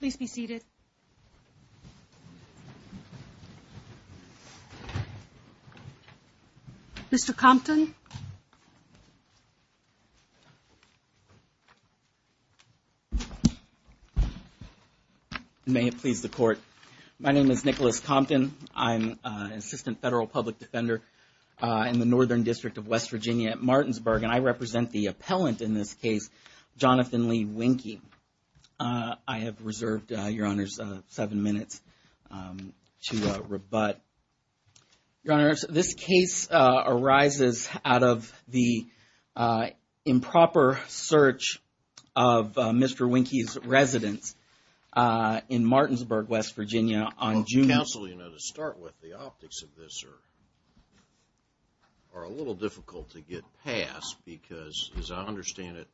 Please be seated. Mr. Compton. May it please the court. My name is Nicholas Compton. I'm an assistant federal public defender in the Northern District of West Virginia at Martinsburg and I represent the appellant in this case Jonathan Lee Wienke. I have reserved your honors seven minutes to rebut. Your honors, this case arises out of the improper search of Mr. Wienke's residence in Martinsburg, West Virginia on June... Counsel, you know to start with the optics of this are a little difficult to get past because as I understand it,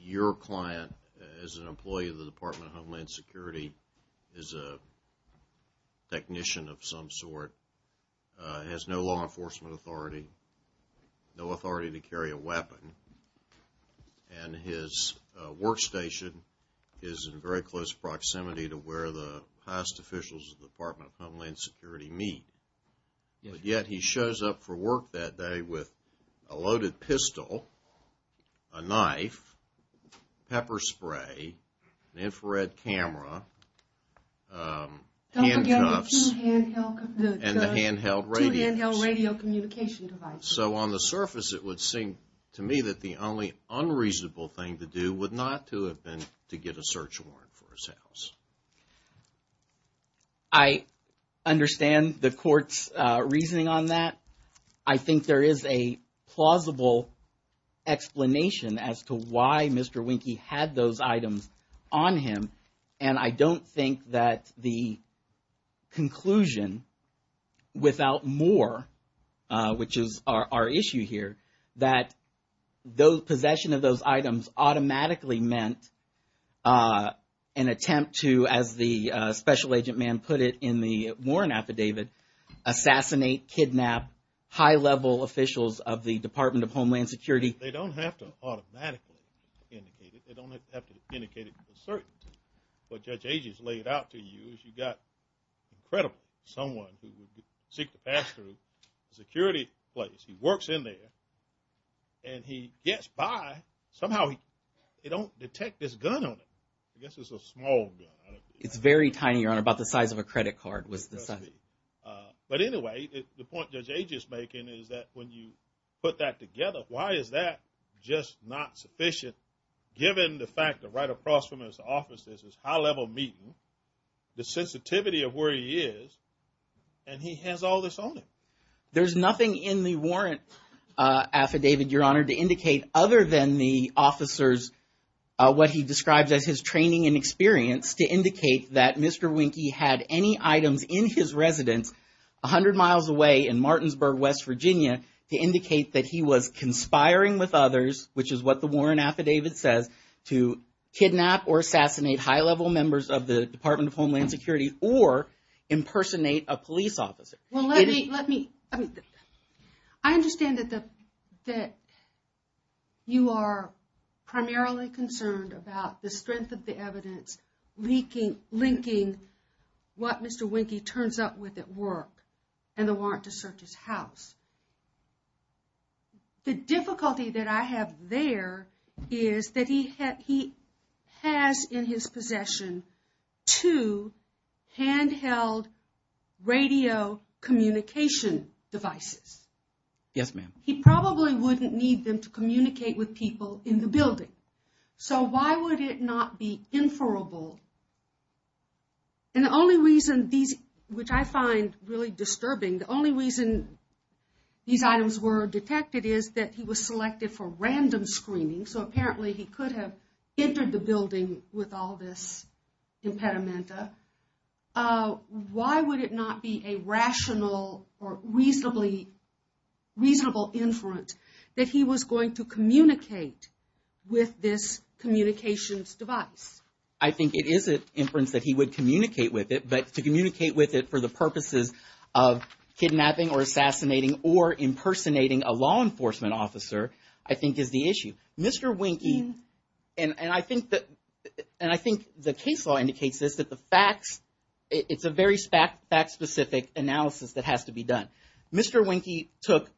your client as an employee of the Department of Homeland Security is a technician of some sort, has no law enforcement authority, no authority to carry a weapon, and his workstation is in very close proximity to where the past officials of the Department of Homeland Security meet. Yet he shows up for work that day with a loaded pistol, a knife, pepper spray, an infrared camera, handcuffs, and the handheld radio. So on the surface it would seem to me that the only unreasonable thing to do would not to have been to get a search warrant for his house. I understand the court's reasoning on that. I think there is a plausible explanation as to why Mr. Wienke had those items on him, and I don't think that the conclusion without more, which is our issue here, that the possession of those items automatically meant an attempt to, as the special agent man put it in the Warren affidavit, assassinate, kidnap high-level officials of the Department of Homeland Security. They don't have to automatically indicate it, they don't have to indicate it with certainty. What Judge Ages laid out to you is you got incredible, someone who would seek to pass through a security place, he works in there, and he gets by, somehow they don't detect this gun on him. I guess it's a small gun. It's very tiny, Your Honor, about the size of a credit card. But anyway, the point Judge Ages is making is that when you put that together, why is that just not sufficient, given the fact that right across from his office is this high-level meeting, the sensitivity of where he is, and he has all this on him. There's nothing in the warrant affidavit, Your Honor, to indicate other than the officers, what he describes as his training and experience, to indicate that Mr. Wynke had any items in his residence, a hundred miles away in Martinsburg, West Virginia, to indicate that he was conspiring with others, which is what the warrant affidavit says, to kidnap or assassinate high-level members of the Department of Homeland Security, or impersonate a police officer. Well, let me... I understand that you are primarily concerned about the strength of the evidence linking what Mr. Wynke turns up with at work, and the warrant to search his house. The difficulty that I have there is that he has in his possession two handheld radio communication devices. Yes, ma'am. He probably wouldn't need them to communicate with people in the building. So why would it not be inferable? And the only reason these, which I find really disturbing, the only reason these items were detected is that he was selected for random screening, so apparently he could have entered the building with all this impedimenta. Why would it not be a rational or reasonably, reasonable inference that he was going to communicate with this communications device? I think it is an inference that he would communicate with it, but to communicate with it for the purposes of kidnapping or assassinating or impersonating a law enforcement officer, I think is the issue. Mr. Wynke, and I think the case law indicates this, that the facts, it's a very fact-specific analysis that has to be done. Mr. Wynke took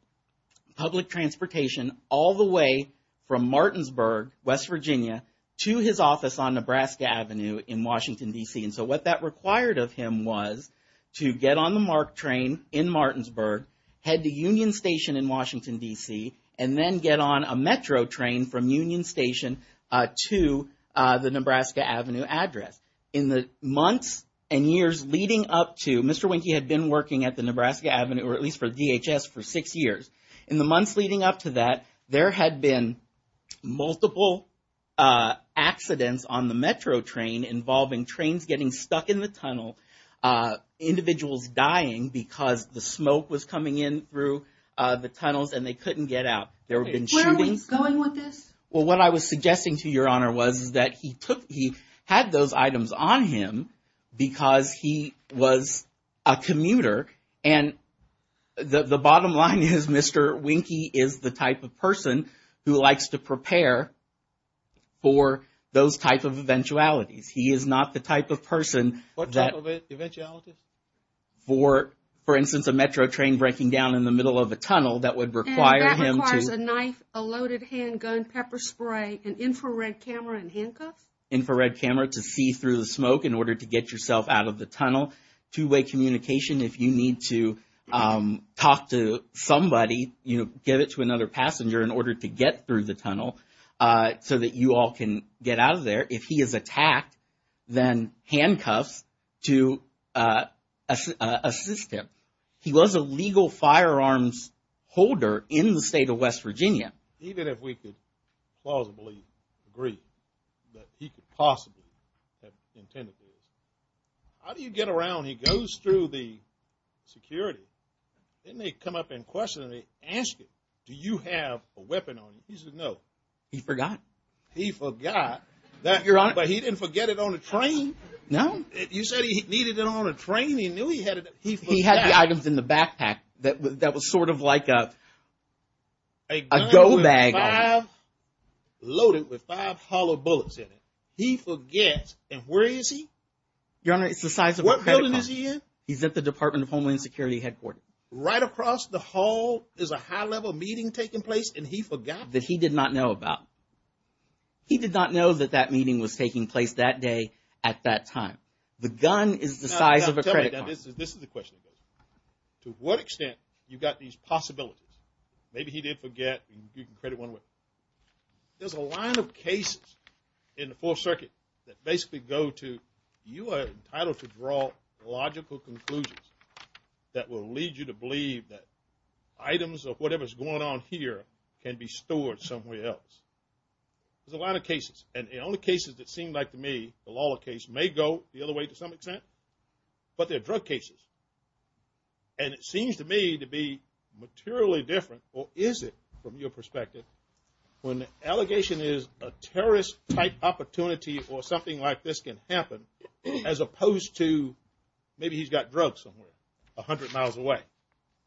public transportation all the way from Martinsburg, West Virginia, to his office on Nebraska Avenue in Washington, D.C. And so what that required of him was to get on the MARC train in Martinsburg, head to Union Station in Washington, D.C., and then get on a Metro train from Union Station to the Nebraska Avenue address. In the months and years leading up to, Mr. Wynke had been working at the Nebraska Avenue, or at least for DHS, for six years. In the months leading up to that, there had been multiple accidents on the Metro train involving trains getting stuck in the tunnel, individuals dying because the smoke was coming in through the tunnels and they couldn't get out. There had been shootings. Where was Wynke going with this? Well, what I was suggesting to Your Honor was that he took, he had those items on him because he was a commuter. And the bottom line is Mr. Wynke is the type of person who likes to prepare for those type of eventualities. He is not the type of person that... What type of eventualities? For instance, a Metro train breaking down in the middle of a tunnel that would require him to... And that requires a knife, a loaded handgun, pepper spray, an infrared camera, and handcuffs? Infrared camera to see through the smoke in order to get yourself out of the tunnel. Two-way communication if you need to talk to somebody, you know, give it to another passenger in order to get through the tunnel so that you all can get out of there. If he is attacked, then handcuffs to assist him. He was a legal firearms holder in the state of West Virginia. Even if we could plausibly agree that he could possibly have intended to, how do you get around he goes through the security, then they come up and question him, they ask him, do you have a weapon on you? He says no. He forgot. He forgot. But he didn't forget it on the train. No. You said he needed it on a train, he knew he had it. He had the items in the backpack that was sort of like a go bag. A gun loaded with five hollow bullets in it. He forgets, and where is he? Your Honor, it's the size of a credit card. What building is he in? He's at the Department of Homeland Security headquarters. Right across the hall is a high-level meeting taking place and he forgot? That he did not know about. He did not know that that meeting was taking place that day at that time. The gun is the size of a credit card. This is the question. To what extent you got these possibilities? Maybe he did forget, you can credit one way. There's a line of cases in the Fourth Circuit that basically go to, you are entitled to draw logical conclusions that will lead you to believe that items of whatever is going on here can be stored somewhere else. There's a line of cases, and the only cases that seem like to me, the Lawler case may go the other way to some extent, but they're drug cases. And it seems to me to be materially different, or is it from your perspective, when the allegation is a terrorist type opportunity or something like this can happen, as opposed to maybe he's got drugs somewhere, a hundred miles away?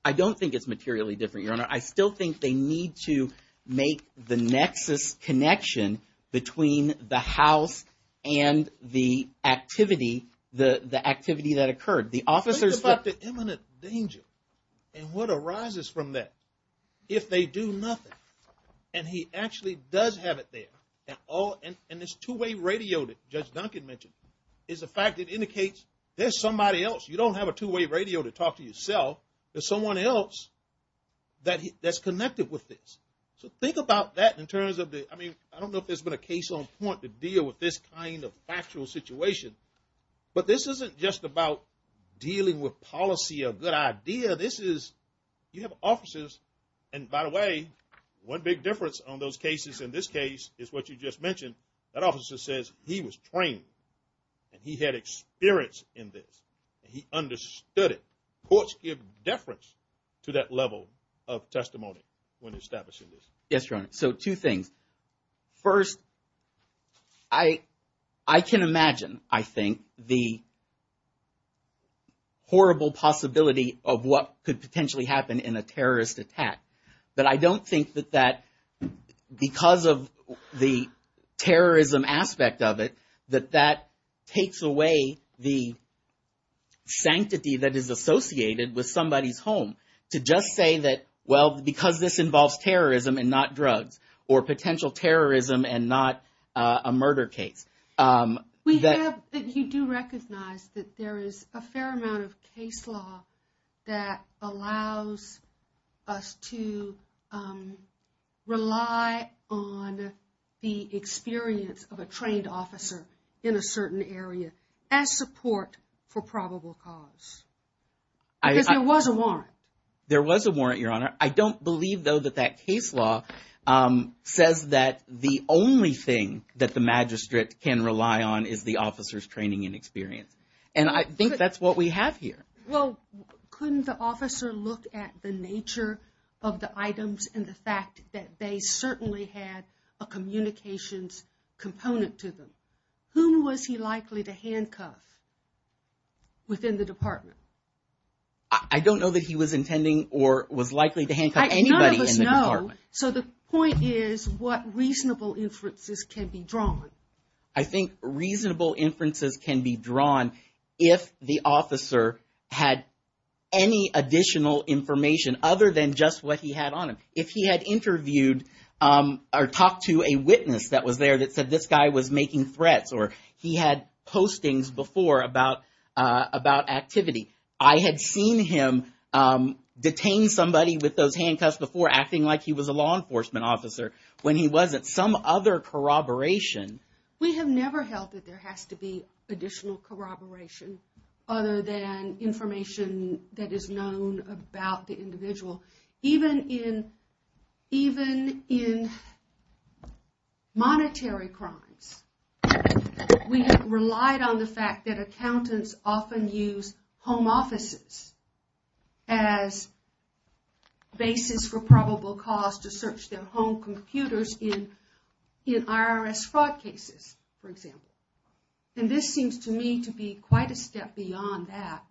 I don't think it's materially different, Your Honor. I still think they need to make the nexus connection between the house and the activity that occurred. Think about the imminent danger and what arises from that if they do nothing. And he actually does have it there. And this two-way radio that Judge Duncan mentioned is a fact that indicates there's somebody else. You don't have a two-way radio to talk to yourself. There's someone else that's connected with this. So think about that in terms of the, I mean, I don't know if there's been a case on point to deal with this kind of factual situation, but this isn't just about dealing with policy or good idea. You have officers, and by the way, one big difference on those cases in this case is what you just mentioned. That officer says he was trained and he had experience in this and he understood it. Courts give deference to that level of testimony when establishing this. Yes, Your Honor. So two things. First, I can imagine, I think, the horrible possibility of what could potentially happen in a terrorist attack. But I don't think that because of the terrorism aspect of it, that that takes away the sanctity that is associated with somebody's home. To just say that, well, because this involves terrorism and not drugs, or potential terrorism and not a murder case. We have, you do recognize that there is a fair amount of case law that allows us to rely on the experience of a trained officer in a certain area as support for probable cause. Because there was a warrant. There was a warrant, Your Honor. I don't believe, though, that that case law says that the only thing that the magistrate can rely on is the officer's training and experience. And I think that's what we have here. Well, couldn't the officer look at the nature of the items and the fact that they certainly had a communications component to them? Whom was he likely to handcuff within the department? I don't know that he was intending or was likely to handcuff anybody in the department. None of us know. So the point is what reasonable inferences can be drawn. I think reasonable inferences can be drawn if the officer had any additional information other than just what he had on him. If he had interviewed or talked to a witness that was there that said this guy was making threats or he had postings before about activity. I had seen him detain somebody with those handcuffs before acting like he was a law enforcement officer when he wasn't. Some other corroboration. We have never held that there has to be additional corroboration other than information that is known about the individual. Even in monetary crimes, we have relied on the fact that accountants often use home offices as basis for probable cause to search their home computers in IRS fraud cases, for example. And this seems to me to be quite a step beyond that.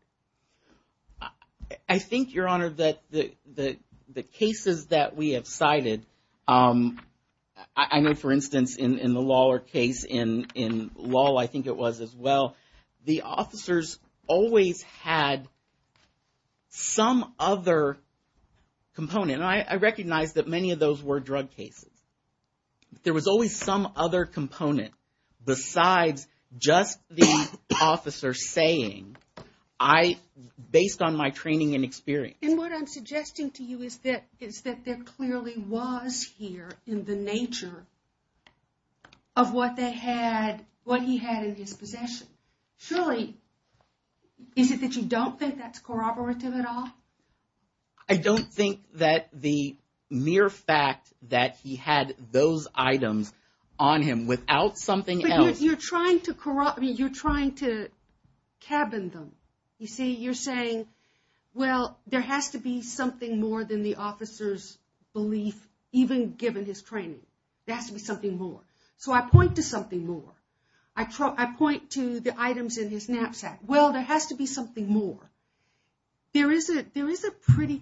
I think, Your Honor, that the cases that we have cited, I know, for instance, in the Lawler case in law, I think it was as well. The officers always had some other component. I recognize that many of those were drug cases. There was always some other component besides just the officer saying, based on my training and experience. And what I'm suggesting to you is that there clearly was here in the nature of what they had, what he had in his possession. Surely, is it that you don't think that's corroborative at all? I don't think that the mere fact that he had those items on him without something else. You're trying to corroborate. You're trying to cabin them. You see, you're saying, well, there has to be something more than the officer's belief, even given his training. There has to be something more. So, I point to something more. I point to the items in his knapsack. Well, there has to be something more. There is a pretty,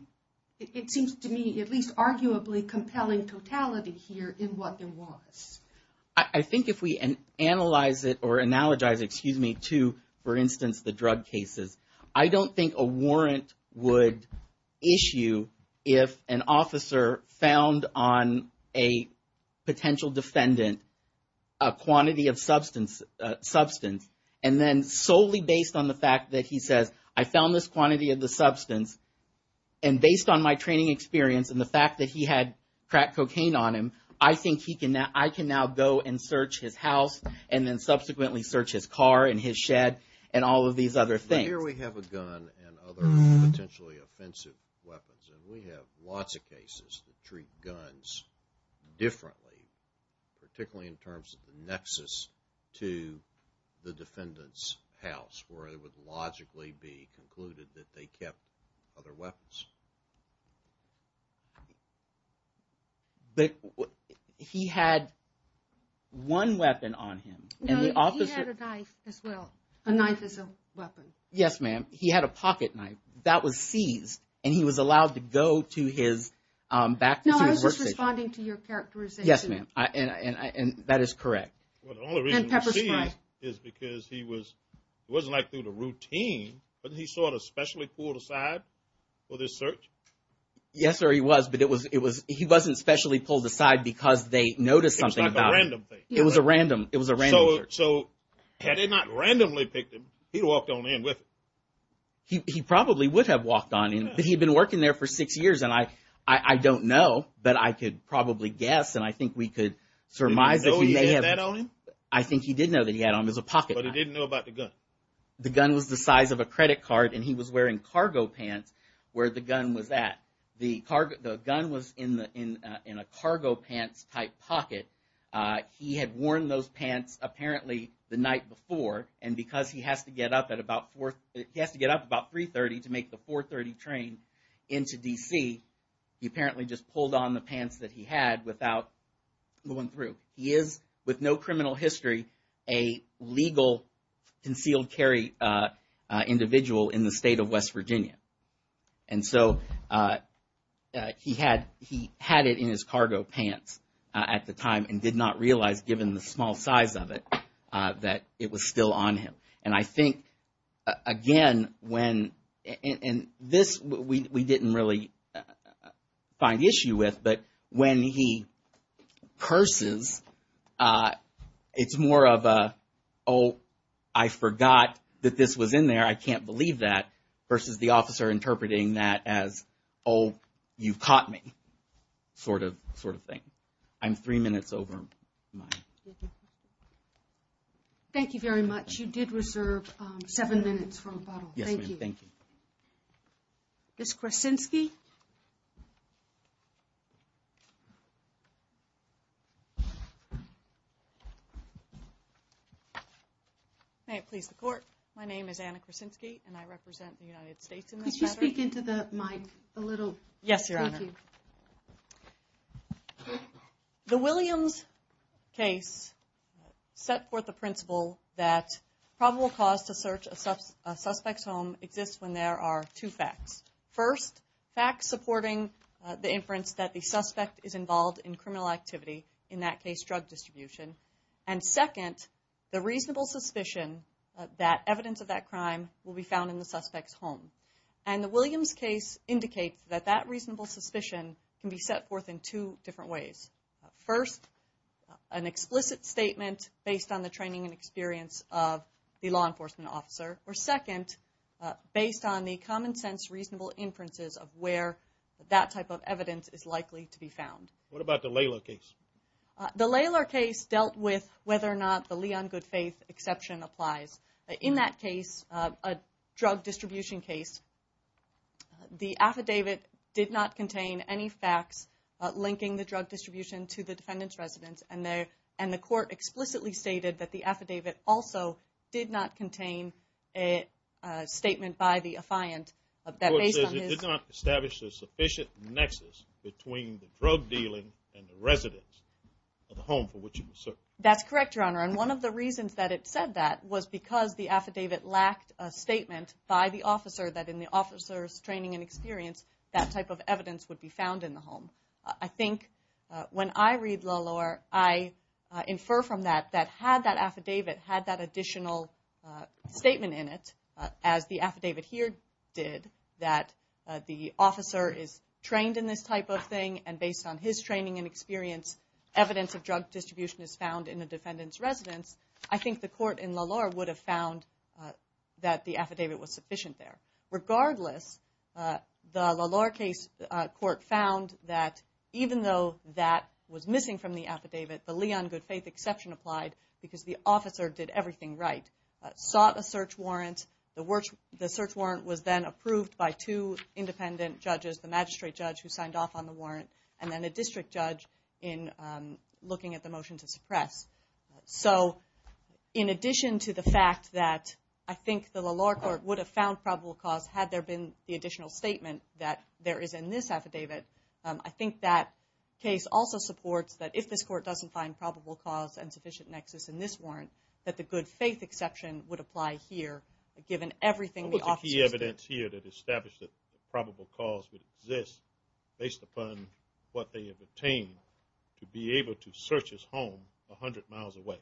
it seems to me, at least arguably compelling totality here in what there was. I think if we analyze it or analogize, excuse me, to, for instance, the drug cases. I don't think a warrant would issue if an officer found on a potential defendant a quantity of substance. And then solely based on the fact that he says, I found this quantity of the substance, and based on my training experience and the fact that he had crack cocaine on him, I think I can now go and search his house and then subsequently search his car and his shed and all of these other things. Here we have a gun and other potentially offensive weapons. And we have lots of cases that treat guns differently, particularly in terms of the nexus to the defendant's house where it would logically be concluded that they kept other weapons. But he had one weapon on him. No, he had a knife as well. A knife is a weapon. Yes, ma'am. He had a pocket knife. That was seized, and he was allowed to go to his back to his workstation. No, I was just responding to your characterization. Yes, ma'am. And that is correct. And pepper spray. The only reason it was seized is because he was, it wasn't like through the routine, but he sort of specially pulled aside for this search? Yes, sir, he was, but it was, he wasn't specially pulled aside because they noticed something about him. It was like a random thing. It was a random, it was a random search. So had they not randomly picked him, he'd walked on in with it. He probably would have walked on in, but he'd been working there for six years, and I don't know, but I could probably guess, and I think we could surmise that he may have. Did he know he had that on him? I think he did know that he had on him as a pocket knife. But he didn't know about the gun? The gun was the size of a credit card, and he was wearing cargo pants where the gun was at. The gun was in a cargo pants-type pocket. He had worn those pants apparently the night before, and because he has to get up at about, he has to get up about 3.30 to make the 4.30 train into D.C., he apparently just pulled on the pants that he had without going through. He is, with no criminal history, a legal concealed carry individual in the state of West Virginia. And so he had it in his cargo pants at the time and did not realize, given the small size of it, that it was still on him. And I think, again, when, and this we didn't really find issue with, but when he curses, it's more of a, oh, I forgot that this was in there, I can't believe that, versus the officer interpreting that as, oh, you caught me, sort of thing. I'm three minutes over. Thank you very much. You did reserve seven minutes for rebuttal. Yes, ma'am. Thank you. Ms. Krasinski? May it please the Court, my name is Anna Krasinski and I represent the United States in this matter. Could you speak into the mic a little? Thank you. The Williams case set forth the principle that probable cause to search a suspect's home exists when there are two facts. First, facts supporting the inference that the suspect is involved in criminal activity, in that case drug distribution. And second, the reasonable suspicion that evidence of that crime will be found in the suspect's home. And the Williams case indicates that that reasonable suspicion can be set forth in two different ways. First, an explicit statement based on the training and experience of the law enforcement officer. Or second, based on the common sense reasonable inferences of where that type of evidence is likely to be found. What about the Laylar case? The Laylar case dealt with whether or not the Leon good faith exception applies. In that case, a drug distribution case, the affidavit did not contain any facts linking the drug distribution to the defendant's residence. And the Court explicitly stated that the affidavit also did not contain a statement by the affiant. The Court says it did not establish a sufficient nexus between the drug dealing and the residence of the home for which it was searched. That's correct, Your Honor. And one of the reasons that it said that was because the affidavit lacked a statement by the officer that in the officer's training and experience, that type of evidence would be found in the home. I think when I read Laylar, I infer from that that had that affidavit had that additional statement in it, as the affidavit here did, that the officer is trained in this type of thing and based on his training and experience, evidence of drug distribution is found in the defendant's residence, I think the Court in Laylar would have found that the affidavit was sufficient there. Regardless, the Laylar case court found that even though that was missing from the affidavit, the Leon good faith exception applied because the officer did everything right. Sought a search warrant. The search warrant was then approved by two independent judges, the magistrate judge who signed off on the warrant and then a district judge in looking at the motion to suppress. So in addition to the fact that I think the Laylar court would have found probable cause had there been the additional statement that there is in this affidavit, I think that case also supports that if this court doesn't find probable cause and sufficient nexus in this warrant, that the good faith exception would apply here given everything the officers did. There's evidence here that established that probable cause would exist based upon what they have obtained to be able to search his home 100 miles away.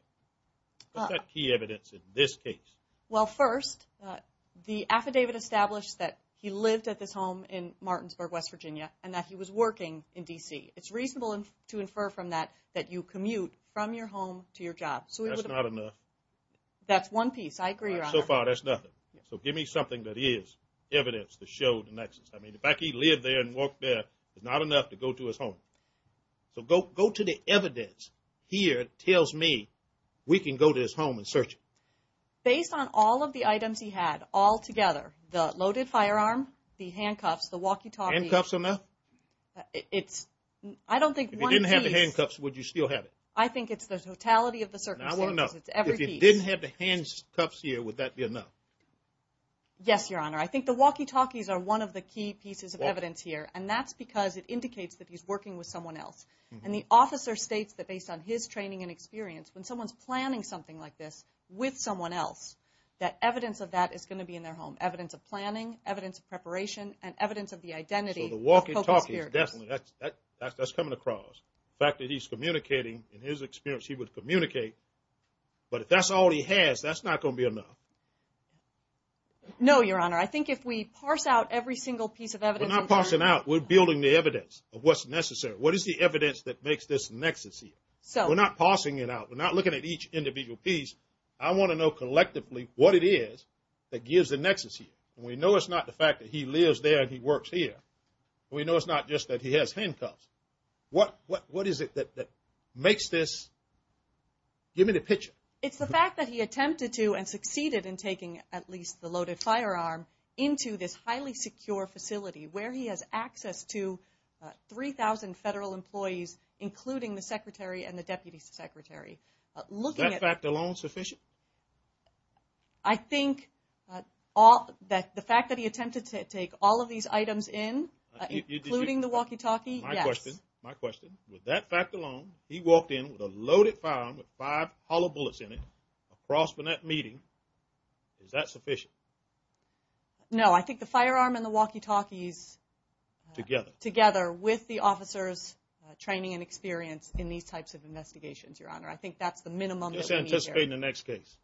What's that key evidence in this case? Well, first, the affidavit established that he lived at this home in Martinsburg, West Virginia, and that he was working in D.C. It's reasonable to infer from that that you commute from your home to your job. That's not enough. That's one piece. I agree, Your Honor. So far, that's nothing. So give me something that is evidence to show the nexus. I mean, the fact he lived there and worked there is not enough to go to his home. So go to the evidence here tells me we can go to his home and search it. Based on all of the items he had altogether, the loaded firearm, the handcuffs, the walkie-talkie. Handcuffs are enough? I don't think one piece. If he didn't have the handcuffs, would you still have it? I think it's the totality of the circumstances. I want to know. If he didn't have the handcuffs here, would that be enough? Yes, Your Honor. I think the walkie-talkies are one of the key pieces of evidence here, and that's because it indicates that he's working with someone else. And the officer states that based on his training and experience, when someone's planning something like this with someone else, that evidence of that is going to be in their home. Evidence of planning, evidence of preparation, and evidence of the identity. So the walkie-talkie is definitely – that's coming across. The fact that he's communicating, in his experience, he would communicate. But if that's all he has, that's not going to be enough. No, Your Honor. I think if we parse out every single piece of evidence. We're not parsing out. We're building the evidence of what's necessary. What is the evidence that makes this nexus here? We're not parsing it out. We're not looking at each individual piece. I want to know collectively what it is that gives the nexus here. And we know it's not the fact that he lives there and he works here. We know it's not just that he has handcuffs. What is it that makes this – give me the picture. It's the fact that he attempted to and succeeded in taking at least the loaded firearm into this highly secure facility where he has access to 3,000 federal employees, including the secretary and the deputy secretary. Is that fact alone sufficient? I think that the fact that he attempted to take all of these items in, including the walkie-talkie, yes. My question, with that fact alone, he walked in with a loaded firearm with five hollow bullets in it, across from that meeting, is that sufficient? No, I think the firearm and the walkie-talkies together with the officer's training and experience in these types of investigations, Your Honor, I think that's the minimum that we need here. I'm anticipating the next case.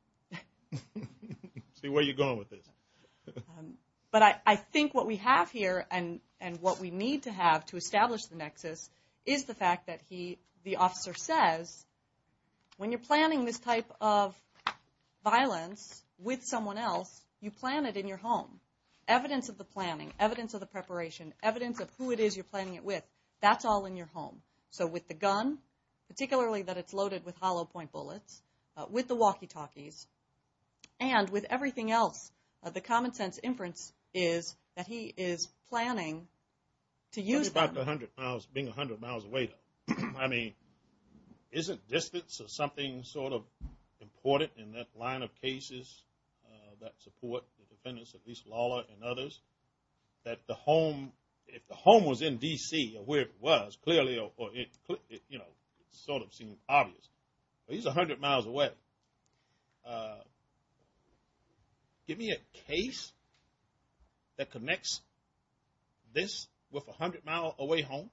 See where you're going with this. But I think what we have here and what we need to have to establish the nexus is the fact that the officer says, when you're planning this type of violence with someone else, you plan it in your home. Evidence of the planning, evidence of the preparation, evidence of who it is you're planning it with, that's all in your home. So with the gun, particularly that it's loaded with hollow point bullets, with the walkie-talkies, and with everything else, the common sense inference is that he is planning to use them. What about being 100 miles away? I mean, isn't distance something sort of important in that line of cases that support the defendants, at least Lawler and others, that the home, if the home was in D.C. or where it was, clearly or, you know, it sort of seems obvious. He's 100 miles away. Give me a case that connects this with a 100-mile away home.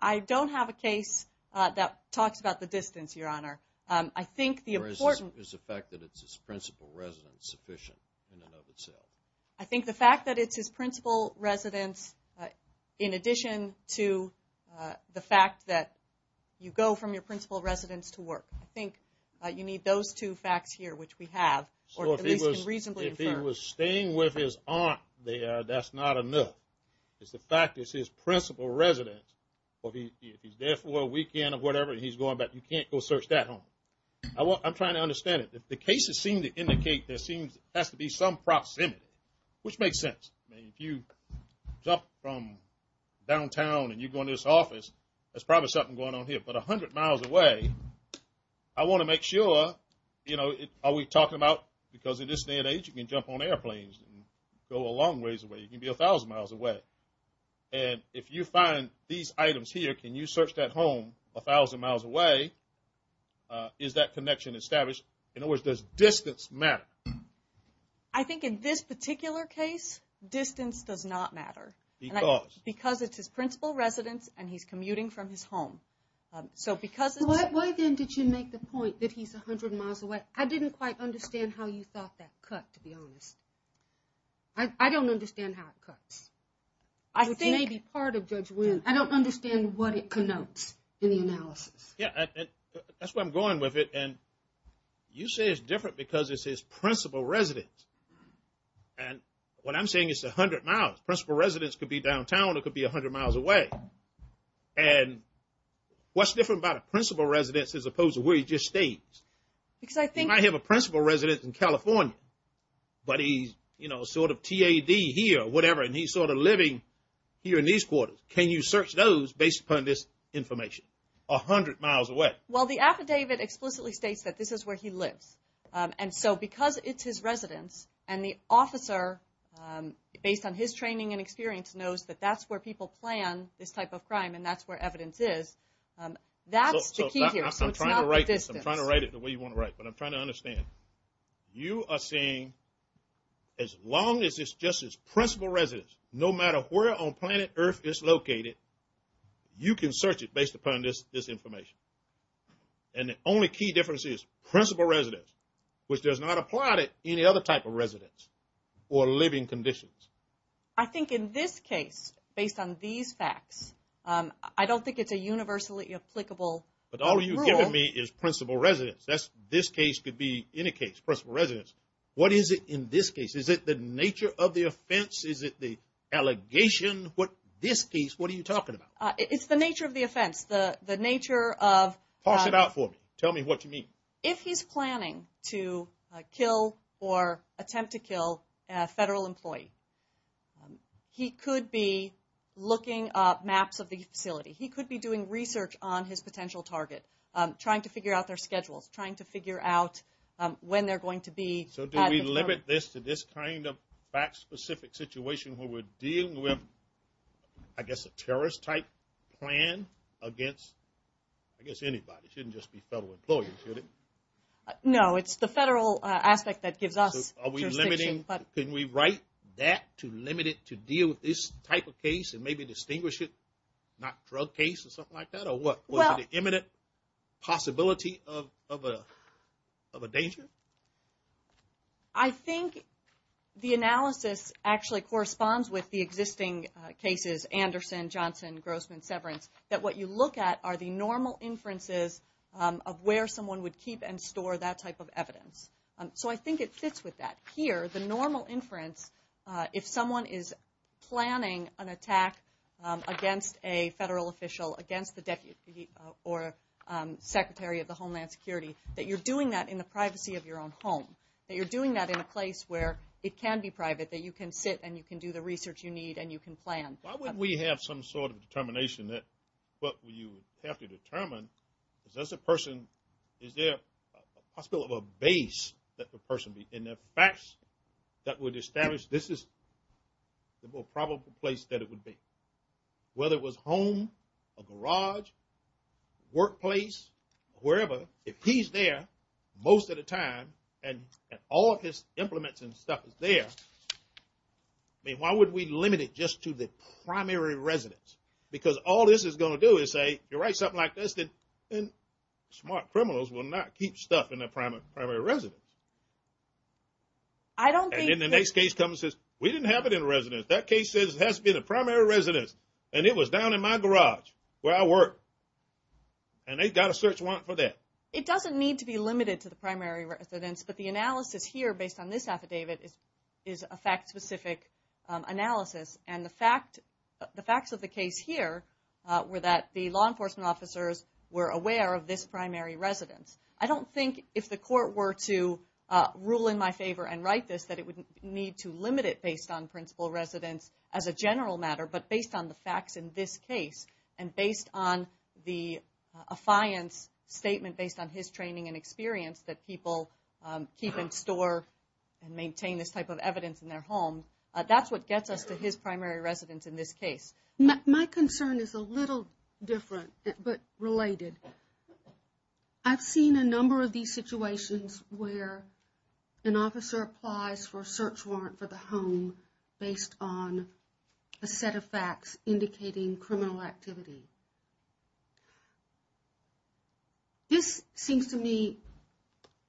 I don't have a case that talks about the distance, Your Honor. I think the important – Or is the fact that it's his principal residence sufficient in and of itself? I think the fact that it's his principal residence, in addition to the fact that you go from your principal residence to work. I think you need those two facts here, which we have, or at least can reasonably infer. So if he was staying with his aunt there, that's not enough. It's the fact it's his principal residence. If he's there for a weekend or whatever and he's going back, you can't go search that home. I'm trying to understand it. The cases seem to indicate there has to be some proximity, which makes sense. I mean, if you jump from downtown and you go into this office, there's probably something going on here. But 100 miles away, I want to make sure, you know, are we talking about because in this day and age you can jump on airplanes and go a long ways away. You can be 1,000 miles away. And if you find these items here, can you search that home 1,000 miles away? Is that connection established? In other words, does distance matter? I think in this particular case, distance does not matter. Because? Because it's his principal residence and he's commuting from his home. Why then did you make the point that he's 100 miles away? I didn't quite understand how you thought that cut, to be honest. I don't understand how it cuts, which may be part of Judge Wynn. I don't understand what it connotes in the analysis. Yeah, that's where I'm going with it. And you say it's different because it's his principal residence. And what I'm saying is 100 miles. Principal residence could be downtown. It could be 100 miles away. And what's different about a principal residence as opposed to where he just stayed? Because I think. He might have a principal residence in California, but he's, you know, sort of TAD here, whatever, and he's sort of living here in these quarters. Can you search those based upon this information? 100 miles away. Well, the affidavit explicitly states that this is where he lives. And so because it's his residence and the officer, based on his training and experience, knows that that's where people plan this type of crime and that's where evidence is. That's the key here. So it's not the distance. I'm trying to write it the way you want to write, but I'm trying to understand. You are saying as long as it's just his principal residence, no matter where on planet earth it's located, you can search it based upon this information. And the only key difference is principal residence, which does not apply to any other type of residence or living conditions. I think in this case, based on these facts, I don't think it's a universally applicable rule. But all you've given me is principal residence. This case could be any case, principal residence. What is it in this case? Is it the nature of the offense? Is it the allegation? This case, what are you talking about? It's the nature of the offense. The nature of... Pass it out for me. Tell me what you mean. If he's planning to kill or attempt to kill a federal employee, he could be looking up maps of the facility. He could be doing research on his potential target, trying to figure out their schedules, trying to figure out when they're going to be... So do we limit this to this kind of fact-specific situation where we're dealing with, I guess, a terrorist-type plan against, I guess, anybody? It shouldn't just be federal employees, should it? No, it's the federal aspect that gives us jurisdiction. Are we limiting... Can we write that to limit it to deal with this type of case and maybe distinguish it, not drug case or something like that, or what? Well... Is it an imminent possibility of a danger? I think the analysis actually corresponds with the existing cases, Anderson, Johnson, Grossman, Severance, that what you look at are the normal inferences of where someone would keep and store that type of evidence. So I think it fits with that. Here, the normal inference, if someone is planning an attack against a federal official, against the deputy or secretary of the Homeland Security, that you're doing that in the privacy of your own home, that you're doing that in a place where it can be private, that you can sit and you can do the research you need and you can plan. Why wouldn't we have some sort of determination that, well, you have to determine, is this a person? Is there a possibility of a base that the person would be in? Are there facts that would establish this is the more probable place that it would be? Whether it was home, a garage, workplace, wherever, if he's there most of the time and all of his implements and stuff is there, I mean, why would we limit it just to the primary residence? Because all this is going to do is say, you write something like this, then smart criminals will not keep stuff in their primary residence. And then the next case comes and says, we didn't have it in residence. That case says it has to be the primary residence, and it was down in my garage where I work. And they've got to search warrant for that. It doesn't need to be limited to the primary residence, but the analysis here based on this affidavit is a fact-specific analysis. And the facts of the case here were that the law enforcement officers were aware of this primary residence. I don't think if the court were to rule in my favor and write this that it would need to limit it based on principal residence as a general matter, but based on the facts in this case and based on the affiance statement based on his training and experience that people keep in store and maintain this type of evidence in their home. That's what gets us to his primary residence in this case. My concern is a little different but related. I've seen a number of these situations where an officer applies for a search warrant for the home based on a set of facts indicating criminal activity. This seems to me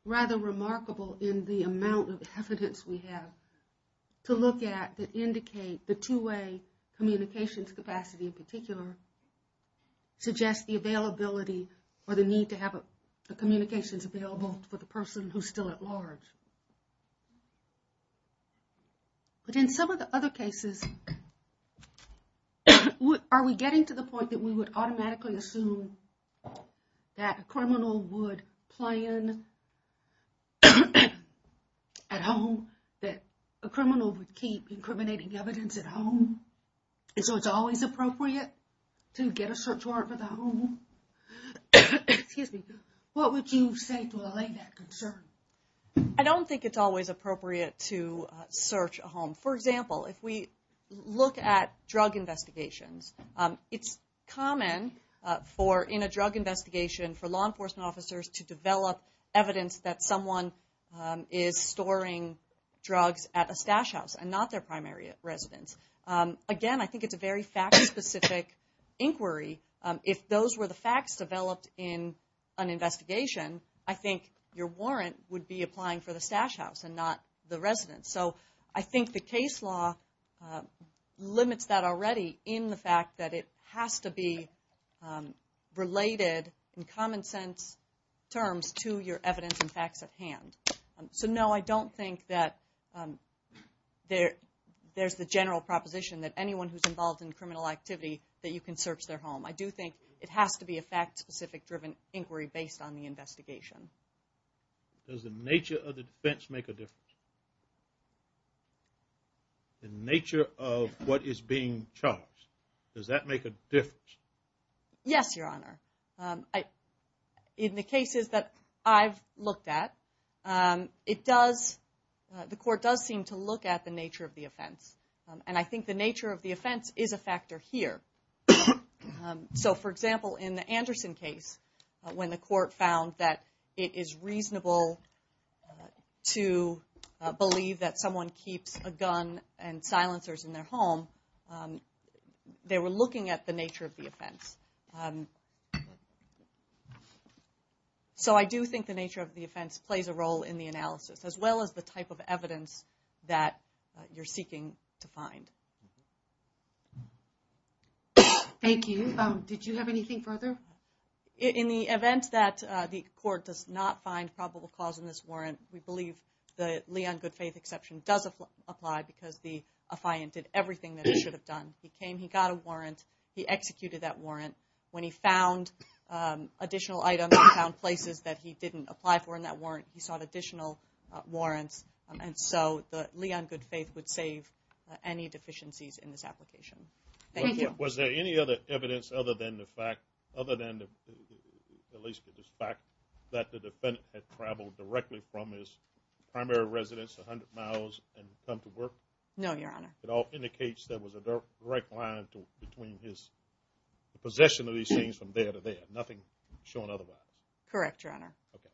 rather remarkable in the amount of evidence we have to look at that indicate the two-way communications capacity in particular suggests the availability or the need to have the communications available for the person who's still at large. But in some of the other cases, are we getting to the point that we would automatically assume that a criminal would plan at home, that a criminal would keep incriminating evidence at home? So it's always appropriate to get a search warrant for the home? Excuse me. What would you say to allay that concern? I don't think it's always appropriate to search a home. For example, if we look at drug investigations, it's common in a drug investigation for law enforcement officers to develop evidence that someone is Again, I think it's a very fact-specific inquiry. If those were the facts developed in an investigation, I think your warrant would be applying for the stash house and not the residence. So I think the case law limits that already in the fact that it has to be related in common sense terms to your evidence and facts at hand. So no, I don't think that there's the general proposition that anyone who's involved in criminal activity, that you can search their home. I do think it has to be a fact-specific driven inquiry based on the investigation. Does the nature of the defense make a difference? The nature of what is being charged, does that make a difference? Yes, Your Honor. In the cases that I've looked at, the court does seem to look at the nature of the offense, and I think the nature of the offense is a factor here. So for example, in the Anderson case, when the court found that it is reasonable to believe that someone keeps a gun and silencers in their home, they were looking at the nature of the offense. So I do think the nature of the offense plays a role in the analysis, as well as the type of evidence that you're seeking to find. Thank you. Did you have anything further? In the event that the court does not find probable cause in this warrant, we should have done. He came, he got a warrant, he executed that warrant. When he found additional items and found places that he didn't apply for in that warrant, he sought additional warrants, and so the lee on good faith would save any deficiencies in this application. Thank you. Was there any other evidence other than the fact that the defendant had traveled directly from his primary residence 100 miles and come to work? No, Your Honor. It all indicates there was a direct line between his possession of these things from there to there, nothing showing otherwise? Correct, Your Honor. Okay.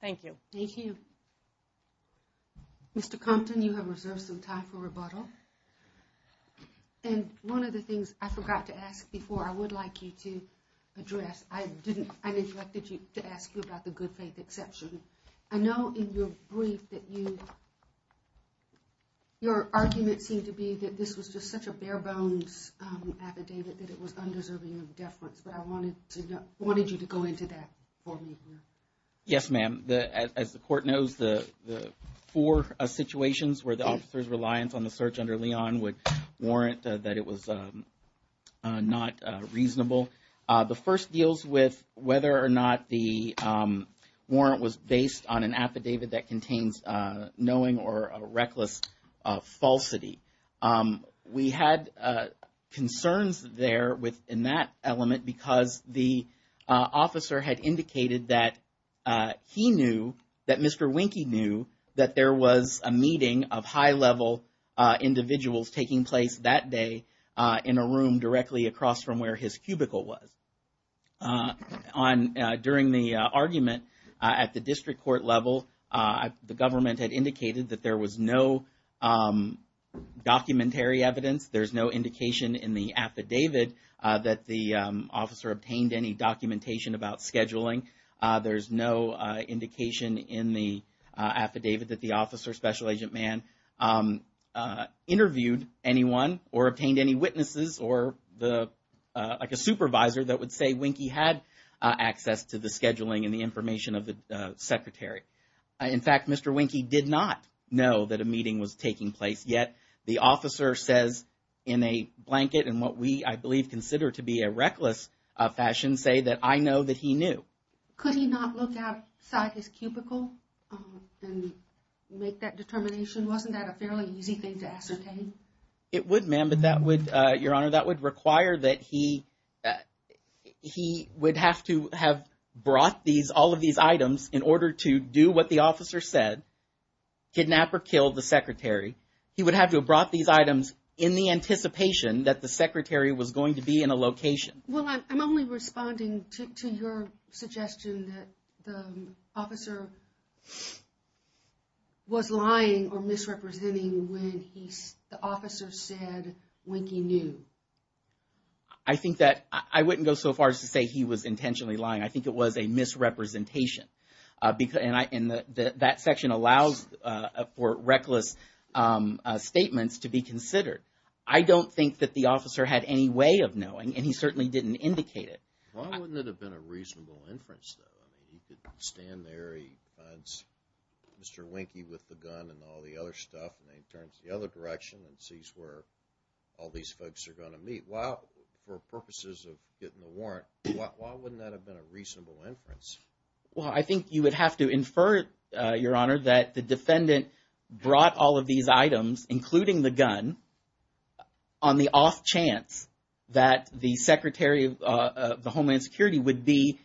Thank you. Thank you. Mr. Compton, you have reserved some time for rebuttal. And one of the things I forgot to ask before I would like you to address, I neglected to ask you about the good faith exception. I know in your brief that you, your argument seemed to be that this was just such a bare bones affidavit that it was undeserving of deference, but I wanted you to go into that for me. Yes, ma'am. As the court knows, the four situations where the officer's reliance on the search under Leon would warrant that it was not reasonable. The first deals with whether or not the warrant was based on an affidavit that contains knowing or a reckless falsity. We had concerns there within that element because the officer had indicated that he knew, that Mr. Wynke knew, that there was a meeting of high-level individuals taking place that day in a room directly across from where his cubicle was. During the argument at the district court level, the government had indicated that there was no documentary evidence, there's no indication in the affidavit that the officer obtained any documentation about scheduling. There's no indication in the affidavit that the officer, Special Agent Mann, interviewed anyone or obtained any witnesses or like a supervisor that would say Wynke had access to the scheduling and the information of the secretary. In fact, Mr. Wynke did not know that a meeting was taking place, yet the officer says in a blanket and what we, I believe, consider to be a reckless fashion, say that I know that he knew. Could he not look outside his cubicle and make that determination? Wasn't that a fairly easy thing to ascertain? It would, ma'am, but that would, Your Honor, that would require that he would have to have brought all of these items in order to do what the officer said, kidnap or kill the secretary. He would have to have brought these items in the anticipation that the secretary was going to be in a location. Well, I'm only responding to your suggestion that the officer was lying or misrepresenting when the officer said Wynke knew. I think that I wouldn't go so far as to say he was intentionally lying. I think it was a misrepresentation. And that section allows for reckless statements to be considered. I don't think that the officer had any way of knowing, and he certainly didn't indicate it. Why wouldn't it have been a reasonable inference, though? I mean, he could stand there, he finds Mr. Wynke with the gun and all the other stuff, and then he turns the other direction and sees where all these folks are going to meet. Well, for purposes of getting a warrant, why wouldn't that have been a reasonable inference? Well, I think you would have to infer, Your Honor, that the defendant brought all of these items, including the gun, on the off chance that the Secretary of Homeland Security would be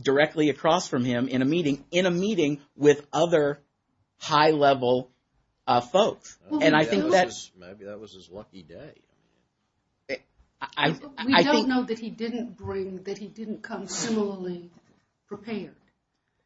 directly across from him in a meeting with other high-level folks. Maybe that was his lucky day. We don't know that he didn't come similarly prepared.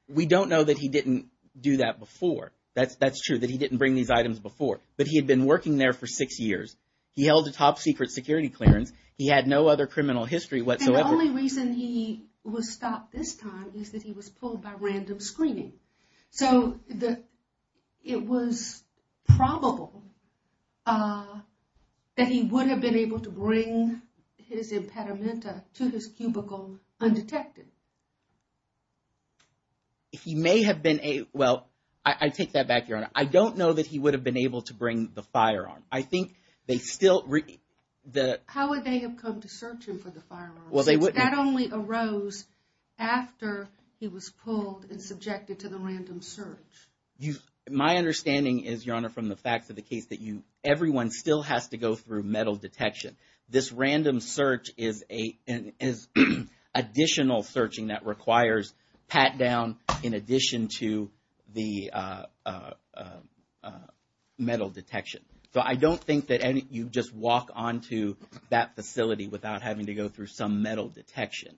We don't know that he didn't do that before. That's true, that he didn't bring these items before. But he had been working there for six years. He held a top-secret security clearance. He had no other criminal history whatsoever. And the only reason he was stopped this time is that he was pulled by random screening. So it was probable that he would have been able to bring his impedimenta to his cubicle undetected. He may have been a, well, I take that back, Your Honor. I don't know that he would have been able to bring the firearm. I think they still. How would they have come to search him for the firearm? Well, they wouldn't. That only arose after he was pulled and subjected to the random search. My understanding is, Your Honor, from the facts of the case, that everyone still has to go through metal detection. This random search is additional searching that requires pat-down in addition to the metal detection. So I don't think that you just walk onto that facility without having to go through some metal detection.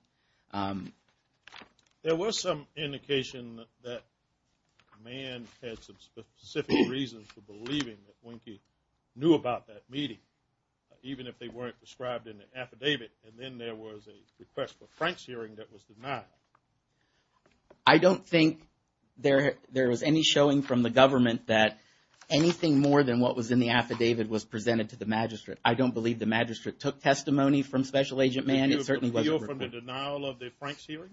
There was some indication that Mann had some specific reasons for believing that Wynke knew about that meeting, even if they weren't described in the affidavit. And then there was a request for Frank's hearing that was denied. I don't think there was any showing from the government that anything more than what was in the affidavit was presented to the magistrate. I don't believe the magistrate took testimony from Special Agent Mann. It certainly wasn't. Did you appeal from the denial of the Frank's hearing?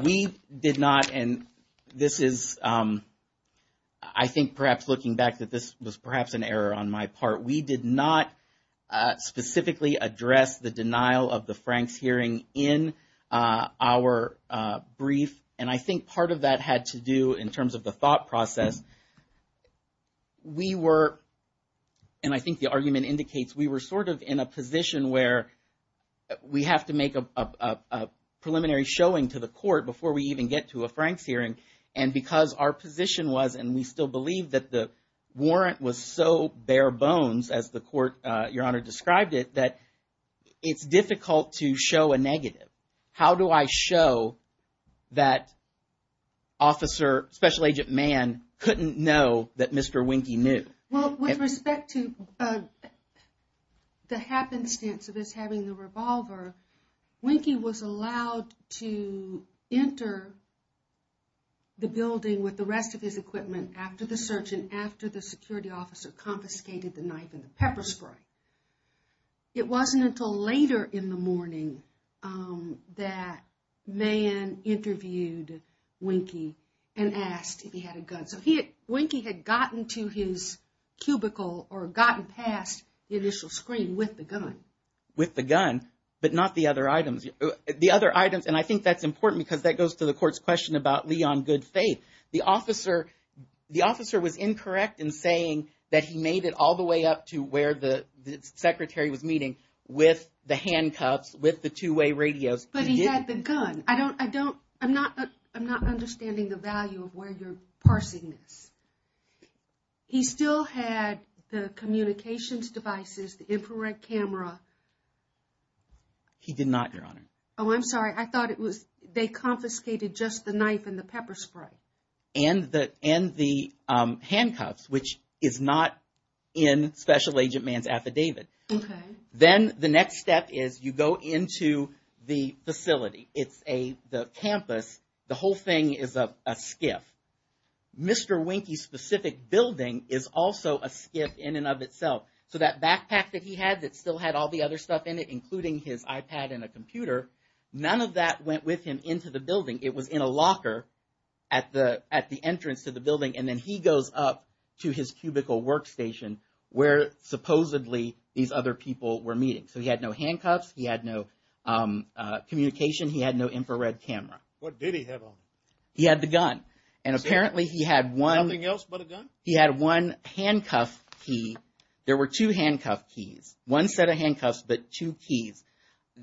We did not. And this is, I think perhaps looking back that this was perhaps an error on my part. We did not specifically address the denial of the Frank's hearing in our brief. And I think part of that had to do in terms of the thought process. We were, and I think the argument indicates we were sort of in a position where we have to make a preliminary showing to the court before we even get to a Frank's hearing. And because our position was, and we still believe that the warrant was so bare bones as the court, Your Honor, described it, that it's difficult to show a negative. How do I show that Officer, Special Agent Mann, couldn't know that Mr. Wynke knew? Well, with respect to the happenstance of this having the revolver, Wynke was allowed to enter the building with the rest of his equipment after the search and after the security officer confiscated the knife and the pepper spray. It wasn't until later in the morning that Mann interviewed Wynke and asked if he had a gun. So Wynke had gotten to his cubicle or gotten past the initial screen with the gun. With the gun, but not the other items. And I think that's important because that goes to the court's question about Lee on good faith. The officer was incorrect in saying that he made it all the way up to where the secretary was meeting with the handcuffs, with the two-way radios. But he had the gun. I'm not understanding the value of where you're parsing this. He still had the communications devices, the infrared camera. He did not, Your Honor. Oh, I'm sorry. I thought it was they confiscated just the knife and the pepper spray. And the handcuffs, which is not in Special Agent Mann's affidavit. Okay. Then the next step is you go into the facility. It's the campus. The whole thing is a skiff. Mr. Wynke's specific building is also a skiff in and of itself. So that backpack that he had that still had all the other stuff in it, including his iPad and a computer, none of that went with him into the building. It was in a locker at the entrance to the building. And then he goes up to his cubicle workstation where supposedly these other people were meeting. So he had no handcuffs. He had no communication. He had no infrared camera. What did he have on him? He had the gun. And apparently he had one. Nothing else but a gun? He had one handcuff key. There were two handcuff keys. One set of handcuffs, but two keys.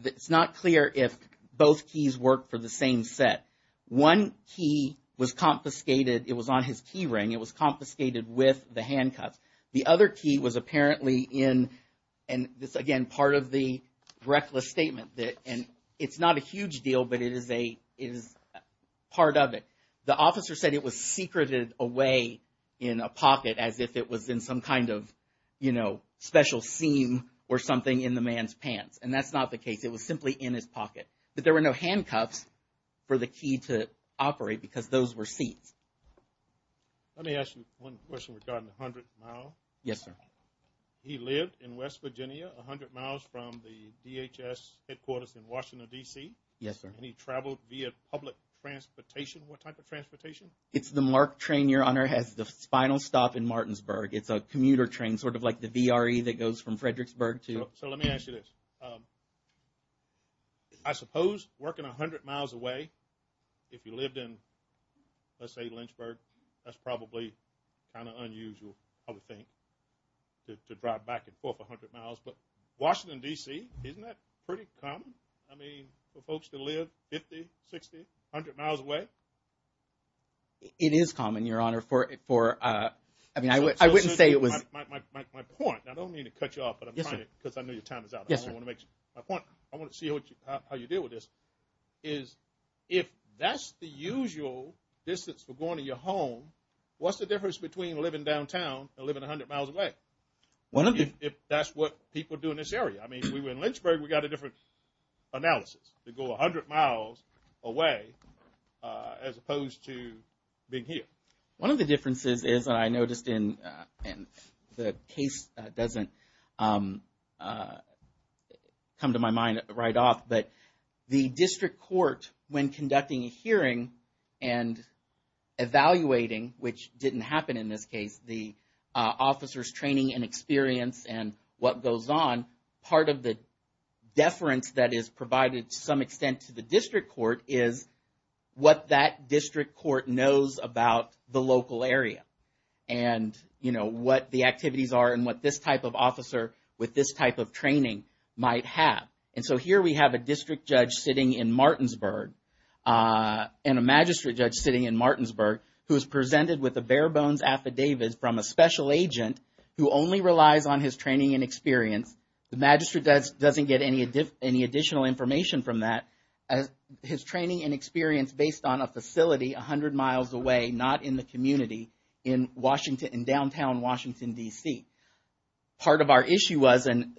It's not clear if both keys worked for the same set. One key was confiscated. It was on his key ring. It was confiscated with the handcuffs. The other key was apparently in, and this, again, part of the reckless statement. And it's not a huge deal, but it is part of it. The officer said it was secreted away in a pocket as if it was in some kind of, you know, special seam or something in the man's pants. And that's not the case. It was simply in his pocket. But there were no handcuffs for the key to operate because those were seats. Let me ask you one question regarding the 100 mile. Yes, sir. He lived in West Virginia, 100 miles from the DHS headquarters in Washington, D.C. Yes, sir. And he traveled via public transportation. What type of transportation? It's the MARC train, Your Honor, has the final stop in Martinsburg. It's a commuter train, sort of like the VRE that goes from Fredericksburg to. So let me ask you this. I suppose working 100 miles away, if you lived in, let's say, Lynchburg, that's probably kind of unusual, I would think, to drive back and forth 100 miles. But Washington, D.C., isn't that pretty common? I mean, for folks to live 50, 60, 100 miles away? It is common, Your Honor. I mean, I wouldn't say it was. My point, and I don't mean to cut you off, but I'm trying to because I know your time is up. Yes, sir. My point, I want to see how you deal with this, is if that's the usual distance for going to your home, what's the difference between living downtown and living 100 miles away? If that's what people do in this area. I mean, if we were in Lynchburg, we got a different analysis to go 100 miles away as opposed to being here. One of the differences is that I noticed in the case that doesn't come to my mind right off, but the district court, when conducting a hearing and evaluating, which didn't happen in this case, the officer's training and experience and what goes on, part of the deference that is provided to some extent to the district court is what that district court knows about the local area and, you know, what the activities are and what this type of officer with this type of training might have. And so here we have a district judge sitting in Martinsburg and a magistrate judge sitting in Martinsburg who is presented with a bare bones affidavit from a special agent who only relies on his training and experience. The magistrate doesn't get any additional information from that. His training and experience based on a facility 100 miles away, not in the community, in Washington, in downtown Washington, D.C. Part of our issue was and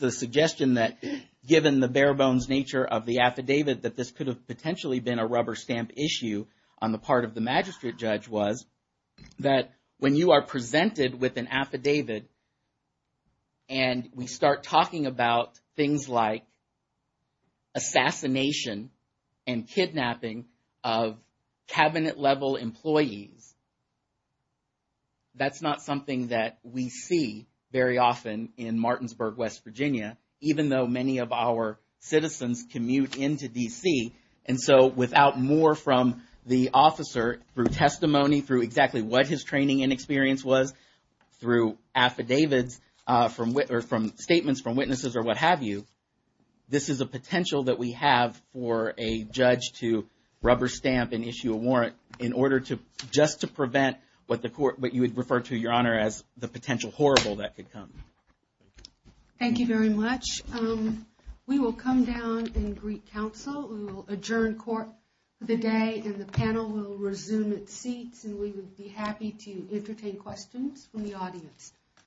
the suggestion that given the bare bones nature of the affidavit, that this could have potentially been a rubber stamp issue on the part of the magistrate judge was that when you are presented with an affidavit and we start talking about things like assassination and kidnapping of cabinet level employees, that's not something that we see very often in Martinsburg, West Virginia, even though many of our citizens commute into D.C. And so without more from the officer through testimony, through exactly what his training and experience was, through affidavits from statements from witnesses or what have you, this is a potential that we have for a judge to rubber stamp and issue a warrant in order to, just to prevent what you would refer to, Your Honor, as the potential horrible that could come. Thank you very much. We will come down and greet counsel. We will adjourn court for the day and the panel will resume its seats. And we would be happy to entertain questions from the audience.